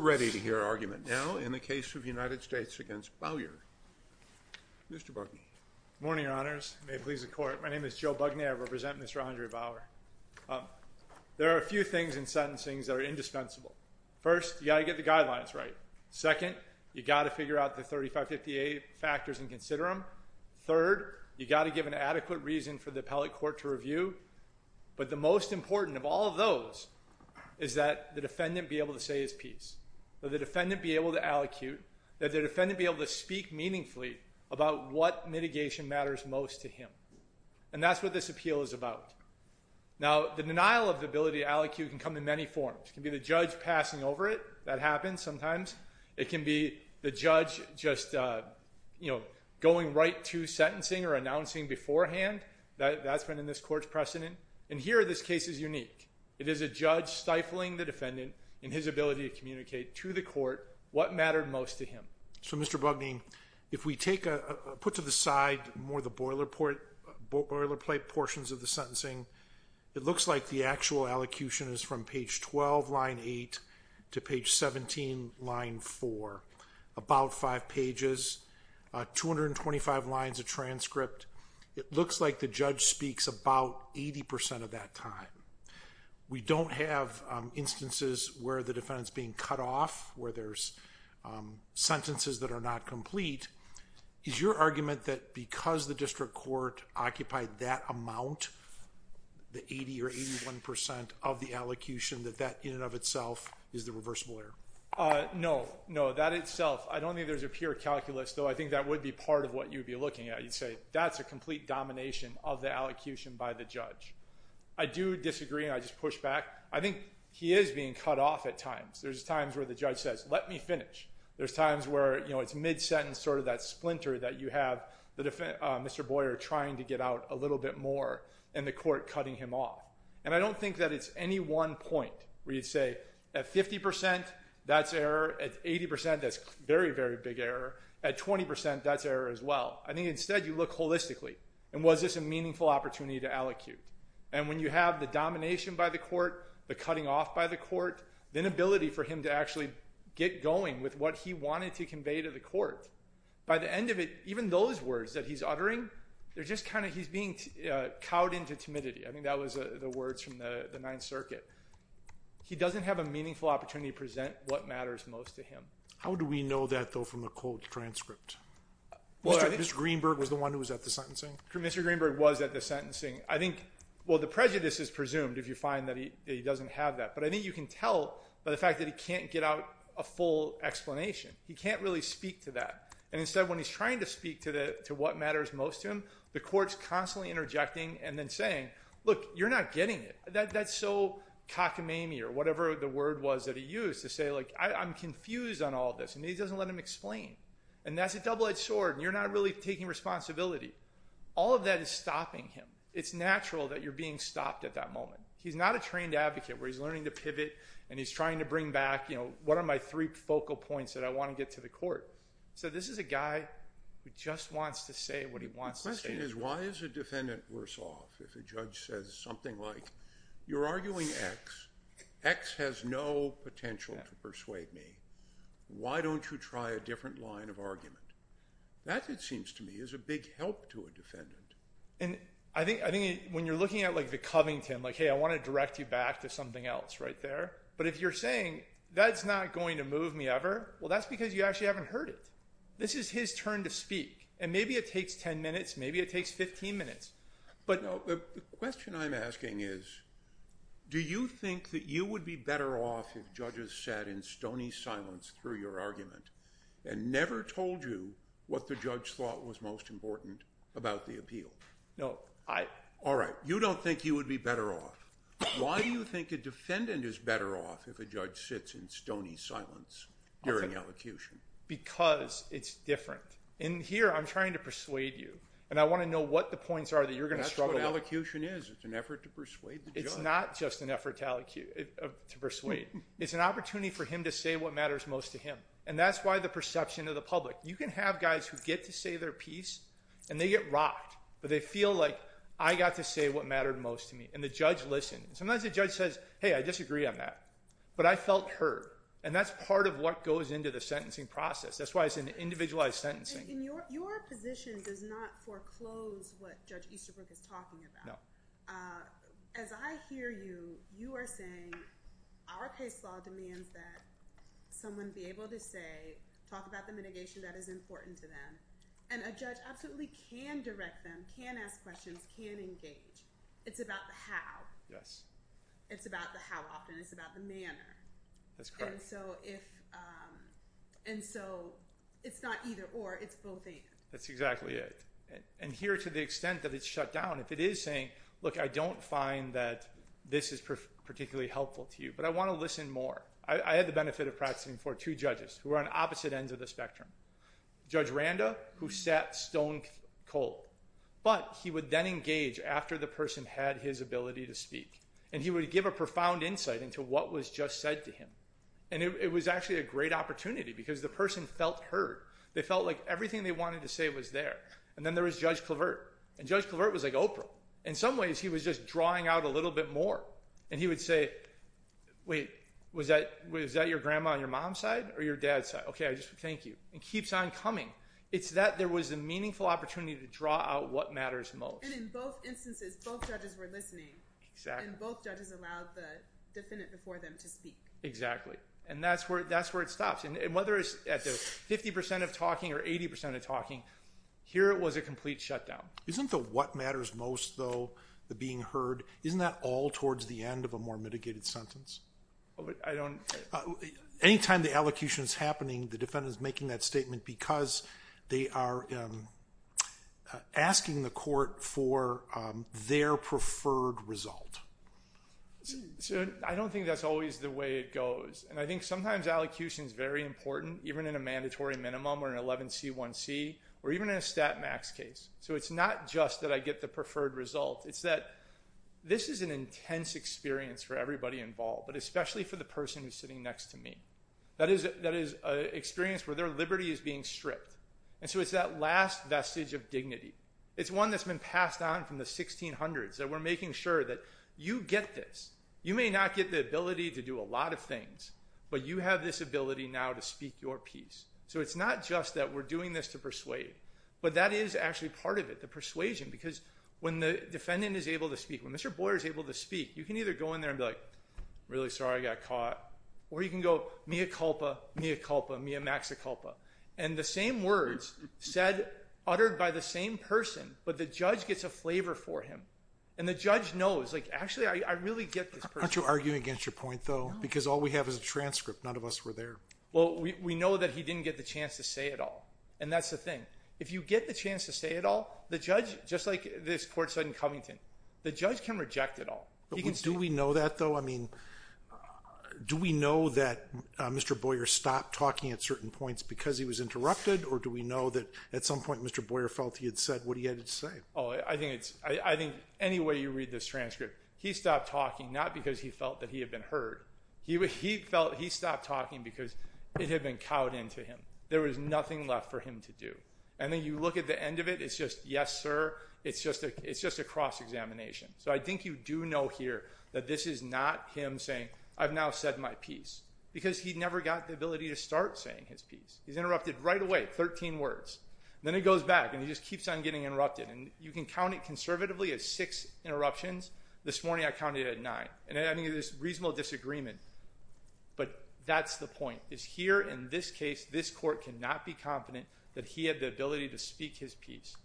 Ready to hear argument now in the case of United States v. Bowyer. Mr. Bugnay. Good morning, Your Honors. May it please the Court. My name is Joe Bugnay. I represent Mr. Andre Bowyer. There are a few things in sentencing that are indispensable. First, you've got to get the guidelines right. Second, you've got to figure out the 3558 factors and consider them. Third, you've got to give an adequate reason for the appellate court to review. But the most important of all of those is that the defendant be able to say his piece, that the defendant be able to allocute, that the defendant be able to speak meaningfully about what mitigation matters most to him. And that's what this appeal is about. Now, the denial of the ability to allocute can come in many forms. It can be the judge passing over it. That happens sometimes. It can be the judge just going right to sentencing or announcing beforehand. That's been in this court's precedent. And here, this case is unique. It is a judge stifling the defendant in his ability to communicate to the court what mattered most to him. So, Mr. Bugnay, if we put to the side more the boilerplate portions of the sentencing, it looks like the actual allocution is from page 12, line 8, to page 17, line 4. About five pages, 225 lines of transcript. It looks like the judge speaks about 80% of that time. We don't have instances where the defendant's being cut off, where there's sentences that are not complete. Is your argument that because the district court occupied that amount, the 80 or 81% of the allocution, that that in and of itself is the reversible error? No. No, that itself. I don't think there's a pure calculus, though I think that would be part of what you'd be looking at. You'd say that's a complete domination of the allocution by the judge. I do disagree, and I just push back. I think he is being cut off at times. There's times where the judge says, let me finish. There's times where, you know, it's mid-sentence, sort of that splinter that you have Mr. Boyer trying to get out a little bit more, and the court cutting him off. And I don't think that it's any one point where you'd say, at 50%, that's error. At 80%, that's very, very big error. At 20%, that's error as well. I think instead you look holistically, and was this a meaningful opportunity to allocute? And when you have the domination by the court, the cutting off by the court, the inability for him to actually get going with what he wanted to convey to the court, by the end of it, even those words that he's uttering, they're just kind of he's being cowed into timidity. I mean, that was the words from the Ninth Circuit. He doesn't have a meaningful opportunity to present what matters most to him. How do we know that, though, from the cold transcript? Mr. Greenberg was the one who was at the sentencing? Mr. Greenberg was at the sentencing. I think, well, the prejudice is presumed if you find that he doesn't have that. But I think you can tell by the fact that he can't get out a full explanation. He can't really speak to that. And instead, when he's trying to speak to what matters most to him, the court's constantly interjecting and then saying, look, you're not getting it. That's so cockamamie or whatever the word was that he used to say, like, I'm confused on all this. And he doesn't let him explain. And that's a double-edged sword, and you're not really taking responsibility. All of that is stopping him. It's natural that you're being stopped at that moment. He's not a trained advocate where he's learning to pivot, and he's trying to bring back, you know, what are my three focal points that I want to get to the court. So this is a guy who just wants to say what he wants to say. The question is, why is a defendant worse off if a judge says something like, you're arguing X. X has no potential to persuade me. Why don't you try a different line of argument? That, it seems to me, is a big help to a defendant. And I think when you're looking at, like, the Covington, like, hey, I want to direct you back to something else right there. But if you're saying that's not going to move me ever, well, that's because you actually haven't heard it. This is his turn to speak. And maybe it takes 10 minutes. Maybe it takes 15 minutes. The question I'm asking is, do you think that you would be better off if judges sat in stony silence through your argument and never told you what the judge thought was most important about the appeal? No. All right. You don't think you would be better off. Why do you think a defendant is better off if a judge sits in stony silence during elocution? Because it's different. And here I'm trying to persuade you. And I want to know what the points are that you're going to struggle with. That's what elocution is. It's an effort to persuade the judge. It's not just an effort to persuade. It's an opportunity for him to say what matters most to him. And that's why the perception of the public. You can have guys who get to say their piece, and they get rocked. But they feel like I got to say what mattered most to me. And the judge listened. Sometimes the judge says, hey, I disagree on that. But I felt heard. And that's part of what goes into the sentencing process. That's why it's an individualized sentencing. Your position does not foreclose what Judge Easterbrook is talking about. No. As I hear you, you are saying our case law demands that someone be able to say, talk about the mitigation that is important to them. And a judge absolutely can direct them, can ask questions, can engage. It's about the how. Yes. It's about the how often. It's about the manner. That's correct. And so it's not either or. It's both and. That's exactly it. And here, to the extent that it's shut down, if it is saying, look, I don't find that this is particularly helpful to you. But I want to listen more. I had the benefit of practicing for two judges who were on opposite ends of the spectrum. Judge Randa, who sat stone cold. But he would then engage after the person had his ability to speak. And he would give a profound insight into what was just said to him. And it was actually a great opportunity because the person felt heard. They felt like everything they wanted to say was there. And then there was Judge Clavert. And Judge Clavert was like Oprah. In some ways, he was just drawing out a little bit more. And he would say, wait, was that your grandma on your mom's side or your dad's side? Okay, thank you. And keeps on coming. It's that there was a meaningful opportunity to draw out what matters most. And in both instances, both judges were listening. Exactly. And both judges allowed the defendant before them to speak. Exactly. And that's where it stops. And whether it's at the 50% of talking or 80% of talking, here it was a complete shutdown. Isn't the what matters most, though, the being heard, isn't that all towards the end of a more mitigated sentence? Anytime the allocution is happening, the defendant is making that statement because they are asking the court for their preferred result. I don't think that's always the way it goes. And I think sometimes allocution is very important, even in a mandatory minimum or an 11C1C, or even in a stat max case. So it's not just that I get the preferred result. It's that this is an intense experience for everybody involved, but especially for the person who's sitting next to me. That is an experience where their liberty is being stripped. And so it's that last vestige of dignity. It's one that's been passed on from the 1600s, that we're making sure that you get this. You may not get the ability to do a lot of things, but you have this ability now to speak your piece. So it's not just that we're doing this to persuade. But that is actually part of it, the persuasion, because when the defendant is able to speak, when Mr. Boyer is able to speak, you can either go in there and be like, you know, mea culpa, mea culpa, mea max culpa. And the same words said, uttered by the same person, but the judge gets a flavor for him. And the judge knows, like, actually, I really get this person. Why don't you argue against your point, though, because all we have is a transcript. None of us were there. Well, we know that he didn't get the chance to say it all. And that's the thing. If you get the chance to say it all, the judge, just like this court said in Covington, the judge can reject it all. Do we know that, though? I mean, do we know that Mr. Boyer stopped talking at certain points because he was interrupted, or do we know that at some point Mr. Boyer felt he had said what he had to say? I think any way you read this transcript, he stopped talking not because he felt that he had been heard. He felt he stopped talking because it had been cowed into him. There was nothing left for him to do. And then you look at the end of it, it's just, yes, sir, it's just a cross-examination. So I think you do know here that this is not him saying, I've now said my piece, because he never got the ability to start saying his piece. He's interrupted right away, 13 words. Then he goes back and he just keeps on getting interrupted. And you can count it conservatively as six interruptions. This morning I counted it at nine. And I think there's reasonable disagreement, but that's the point, is here in this case this court cannot be confident that he had the ability to speak his piece.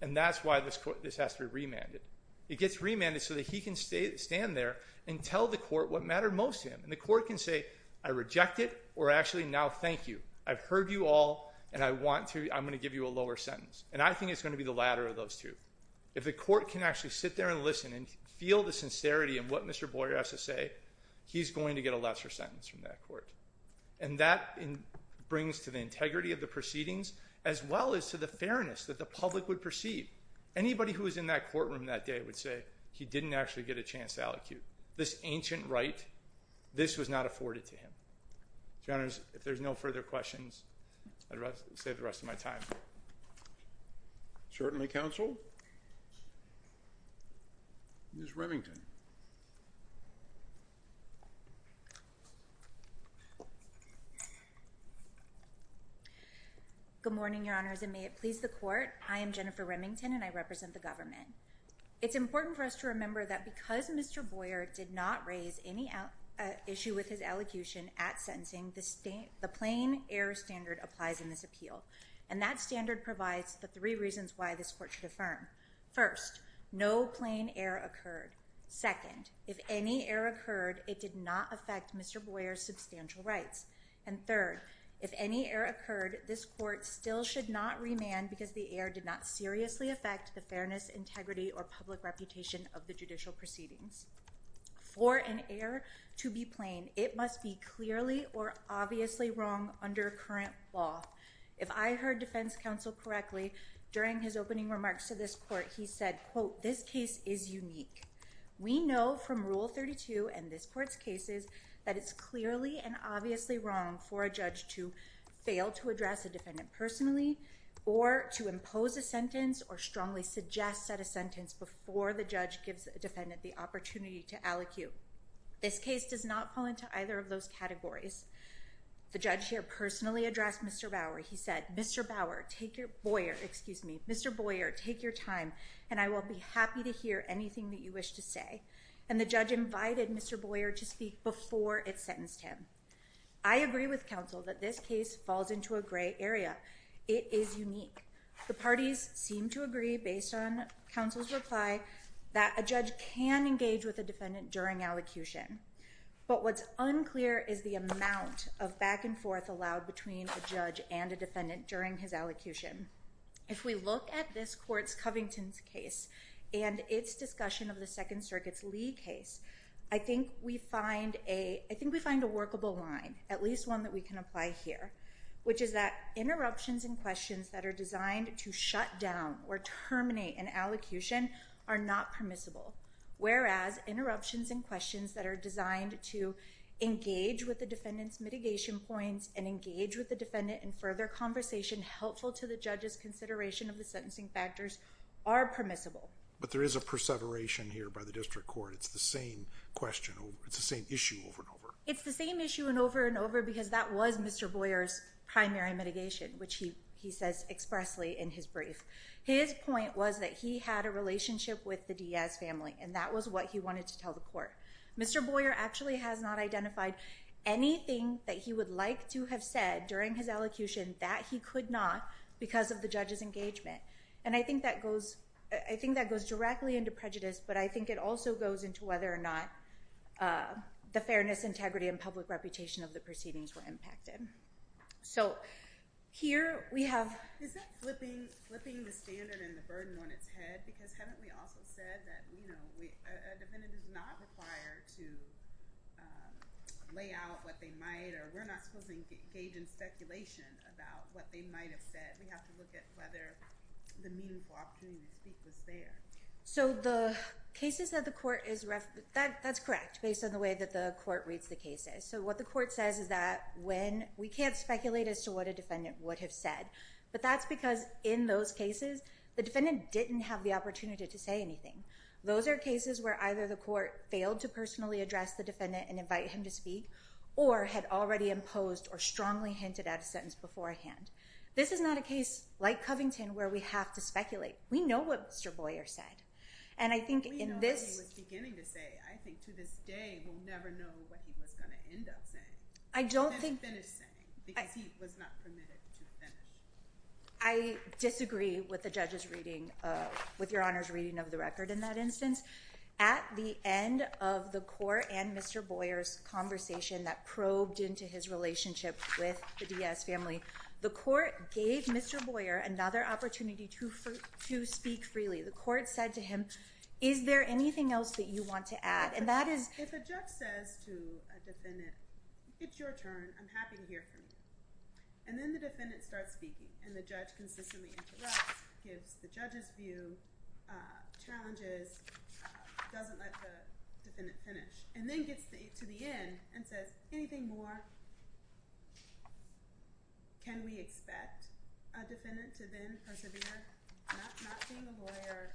And that's why this has to be remanded. It gets remanded so that he can stand there and tell the court what mattered most to him. And the court can say, I reject it, or actually now thank you. I've heard you all, and I want to, I'm going to give you a lower sentence. And I think it's going to be the latter of those two. If the court can actually sit there and listen and feel the sincerity in what Mr. Boyer has to say, he's going to get a lesser sentence from that court. And that brings to the integrity of the proceedings as well as to the fairness that the public would perceive. Anybody who was in that courtroom that day would say he didn't actually get a chance to allocate. This ancient right, this was not afforded to him. Your Honors, if there's no further questions, I'd rather save the rest of my time. Certainly, Counsel. Ms. Remington. Good morning, Your Honors, and may it please the court. I am Jennifer Remington, and I represent the government. It's important for us to remember that because Mr. Boyer did not raise any issue with his elocution at sentencing, the plain error standard applies in this appeal. And that standard provides the three reasons why this court should affirm. First, no plain error occurred. Second, if any error occurred, it did not affect Mr. Boyer's substantial rights. And third, if any error occurred, this court still should not remand because the error did not seriously affect the fairness, integrity, or public reputation of the judicial proceedings. For an error to be plain, it must be clearly or obviously wrong under current law. If I heard Defense Counsel correctly, during his opening remarks to this court, he said, quote, this case is unique. We know from Rule 32 and this court's cases that it's clearly and obviously wrong for a judge to fail to address a defendant personally or to impose a sentence or strongly suggest that a sentence before the judge gives a defendant the opportunity to allocute. This case does not fall into either of those categories. The judge here personally addressed Mr. Bauer. He said, Mr. Bauer, take your time, and I will be happy to hear anything that you wish to say. And the judge invited Mr. Boyer to speak before it sentenced him. I agree with counsel that this case falls into a gray area. It is unique. The parties seem to agree, based on counsel's reply, that a judge can engage with a defendant during allocution. But what's unclear is the amount of back and forth allowed between a judge and a defendant during his allocution. If we look at this court's Covington's case and its discussion of the Second Circuit's Lee case, I think we find a workable line, at least one that we can apply here, which is that interruptions and questions that are designed to shut down or terminate an allocution are not permissible, whereas interruptions and questions that are designed to engage with the defendant's mitigation points and engage with the defendant in further conversation helpful to the judge's consideration of the sentencing factors are permissible. But there is a perseveration here by the district court. It's the same question. It's the same issue over and over. It's the same issue over and over because that was Mr. Boyer's primary mitigation, which he says expressly in his brief. His point was that he had a relationship with the Diaz family, and that was what he wanted to tell the court. Mr. Boyer actually has not identified anything that he would like to have said during his allocution that he could not because of the judge's engagement. And I think that goes directly into prejudice, but I think it also goes into whether or not the fairness, integrity, and public reputation of the proceedings were impacted. So here we have – Is that flipping the standard and the burden on its head? Because haven't we also said that a defendant is not required to lay out what they might or we're not supposed to engage in speculation about what they might have said? We have to look at whether the meaningful opportunity to speak was there. So the cases that the court is – that's correct based on the way that the court reads the cases. So what the court says is that when – we can't speculate as to what a defendant would have said, but that's because in those cases the defendant didn't have the opportunity to say anything. Those are cases where either the court failed to personally address the defendant and invite him to speak or had already imposed or strongly hinted at a sentence beforehand. This is not a case like Covington where we have to speculate. We know what Mr. Boyer said, and I think in this – I don't think – I disagree with the judge's reading, with Your Honor's reading of the record in that instance. At the end of the court and Mr. Boyer's conversation that probed into his relationship with the Diaz family, the court gave Mr. Boyer another opportunity to speak freely. The court said to him, is there anything else that you want to add? If a judge says to a defendant, it's your turn. I'm happy to hear from you. And then the defendant starts speaking, and the judge consistently interrupts, gives the judge's view, challenges, doesn't let the defendant finish, and then gets to the end and says, anything more? Can we expect a defendant to then persevere? Not being a lawyer,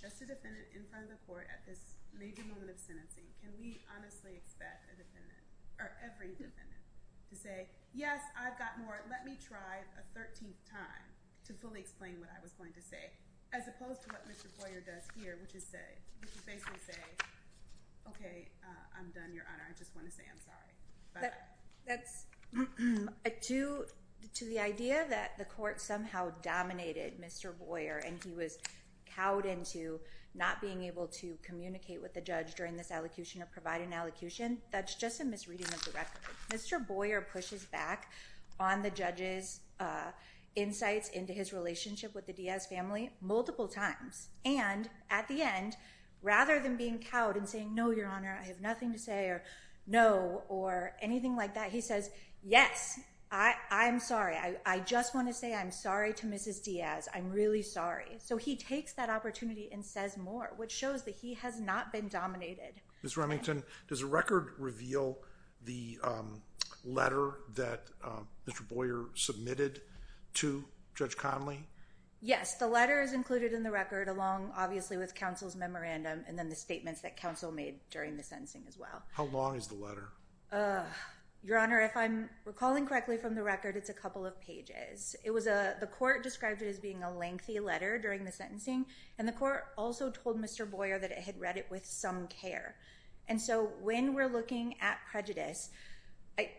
just a defendant in front of the court at this major moment of sentencing, can we honestly expect a defendant, or every defendant, to say, yes, I've got more, let me try a 13th time to fully explain what I was going to say, as opposed to what Mr. Boyer does here, which is basically say, okay, I'm done, Your Honor. I just want to say I'm sorry. To the idea that the court somehow dominated Mr. Boyer, and he was cowed into not being able to communicate with the judge during this allocution or provide an allocution, that's just a misreading of the record. Mr. Boyer pushes back on the judge's insights into his relationship with the Diaz family multiple times, and at the end, rather than being cowed and saying, no, Your Honor, I have nothing to say, or no, or anything like that, he says, yes, I'm sorry. I just want to say I'm sorry to Mrs. Diaz. I'm really sorry. So he takes that opportunity and says more, which shows that he has not been dominated. Ms. Remington, does the record reveal the letter that Mr. Boyer submitted to Judge Conley? Yes. The letter is included in the record along, obviously, with counsel's memorandum and then the statements that counsel made during the sentencing as well. How long is the letter? Your Honor, if I'm recalling correctly from the record, it's a couple of pages. The court described it as being a lengthy letter during the sentencing, and the court also told Mr. Boyer that it had read it with some care. And so when we're looking at prejudice,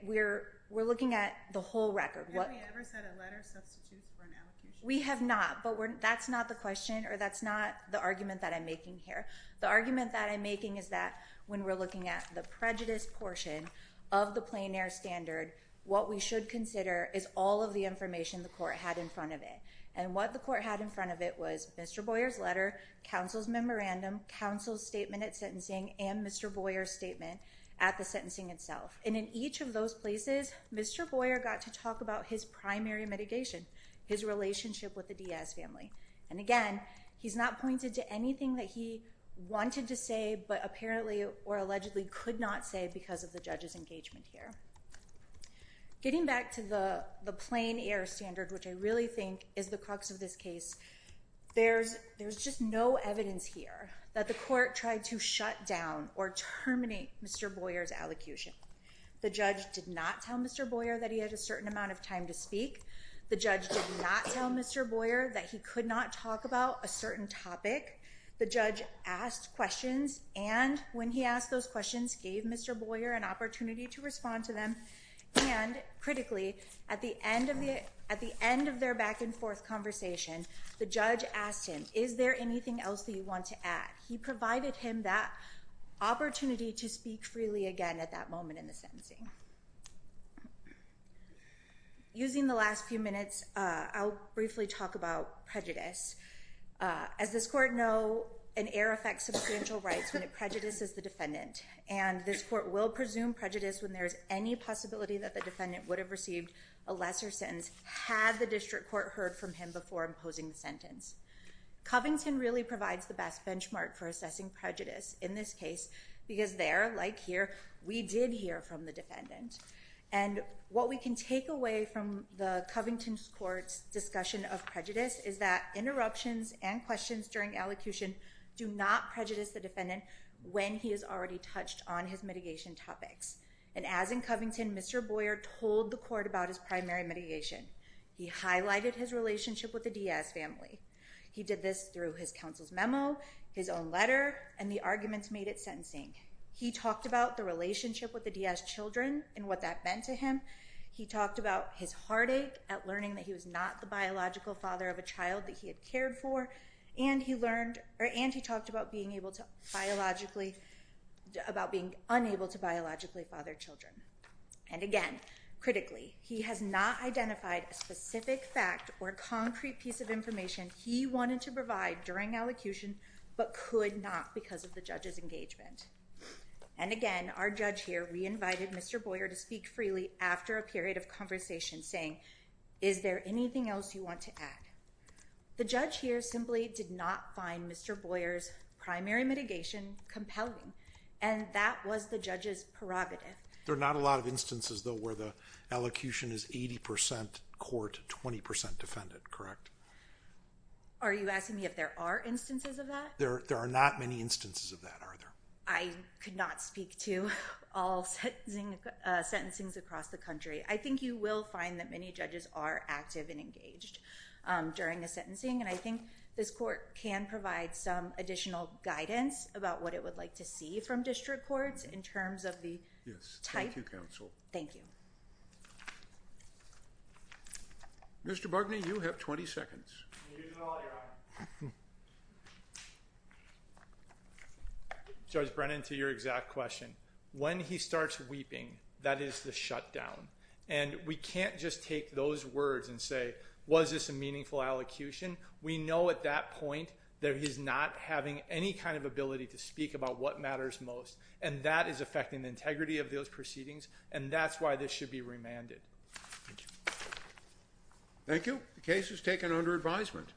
we're looking at the whole record. Have we ever said a letter substitutes for an allocution? We have not, but that's not the question or that's not the argument that I'm making here. The argument that I'm making is that when we're looking at the prejudice portion of the plein air standard, what we should consider is all of the information the court had in front of it. And what the court had in front of it was Mr. Boyer's letter, counsel's memorandum, counsel's statement at sentencing, and Mr. Boyer's statement at the sentencing itself. And in each of those places, Mr. Boyer got to talk about his primary mitigation, his relationship with the Diaz family. And again, he's not pointed to anything that he wanted to say but apparently or allegedly could not say because of the judge's engagement here. Getting back to the plein air standard, which I really think is the crux of this case, there's just no evidence here that the court tried to shut down or terminate Mr. Boyer's allocution. The judge did not tell Mr. Boyer that he had a certain amount of time to speak. The judge did not tell Mr. Boyer that he could not talk about a certain topic. The judge asked questions, and when he asked those questions, gave Mr. Boyer an opportunity to respond to them. And critically, at the end of their back-and-forth conversation, the judge asked him, is there anything else that you want to add? He provided him that opportunity to speak freely again at that moment in the sentencing. Using the last few minutes, I'll briefly talk about prejudice. As this court knows, an error affects substantial rights when it prejudices the defendant. And this court will presume prejudice when there is any possibility that the defendant would have received a lesser sentence had the district court heard from him before imposing the sentence. Covington really provides the best benchmark for assessing prejudice in this case because there, like here, we did hear from the defendant. And what we can take away from the Covington court's discussion of prejudice is that interruptions and questions during allocution do not prejudice the defendant when he is already touched on his mitigation topics. And as in Covington, Mr. Boyer told the court about his primary mitigation. He highlighted his relationship with the Diaz family. He did this through his counsel's memo, his own letter, and the arguments made at sentencing. He talked about the relationship with the Diaz children and what that meant to him. He talked about his heartache at learning that he was not the biological father of a child that he had cared for. And he talked about being unable to biologically father children. And again, critically, he has not identified a specific fact or concrete piece of information he wanted to provide during allocution but could not because of the judge's engagement. And again, our judge here re-invited Mr. Boyer to speak freely after a period of conversation, saying, is there anything else you want to add? The judge here simply did not find Mr. Boyer's primary mitigation compelling, and that was the judge's prerogative. There are not a lot of instances, though, where the allocution is 80% court, 20% defendant, correct? Are you asking me if there are instances of that? There are not many instances of that, are there? I could not speak to all sentencings across the country. I think you will find that many judges are active and engaged during a sentencing, and I think this court can provide some additional guidance about what it would like to see from district courts in terms of the type. Thank you, counsel. Thank you. Mr. Barkney, you have 20 seconds. Judge Brennan, to your exact question, when he starts weeping, that is the shutdown. And we can't just take those words and say, was this a meaningful allocution? We know at that point that he's not having any kind of ability to speak about what matters most, and that is affecting the integrity of those proceedings, and that's why this should be remanded. Thank you. Thank you. The case is taken under advisement.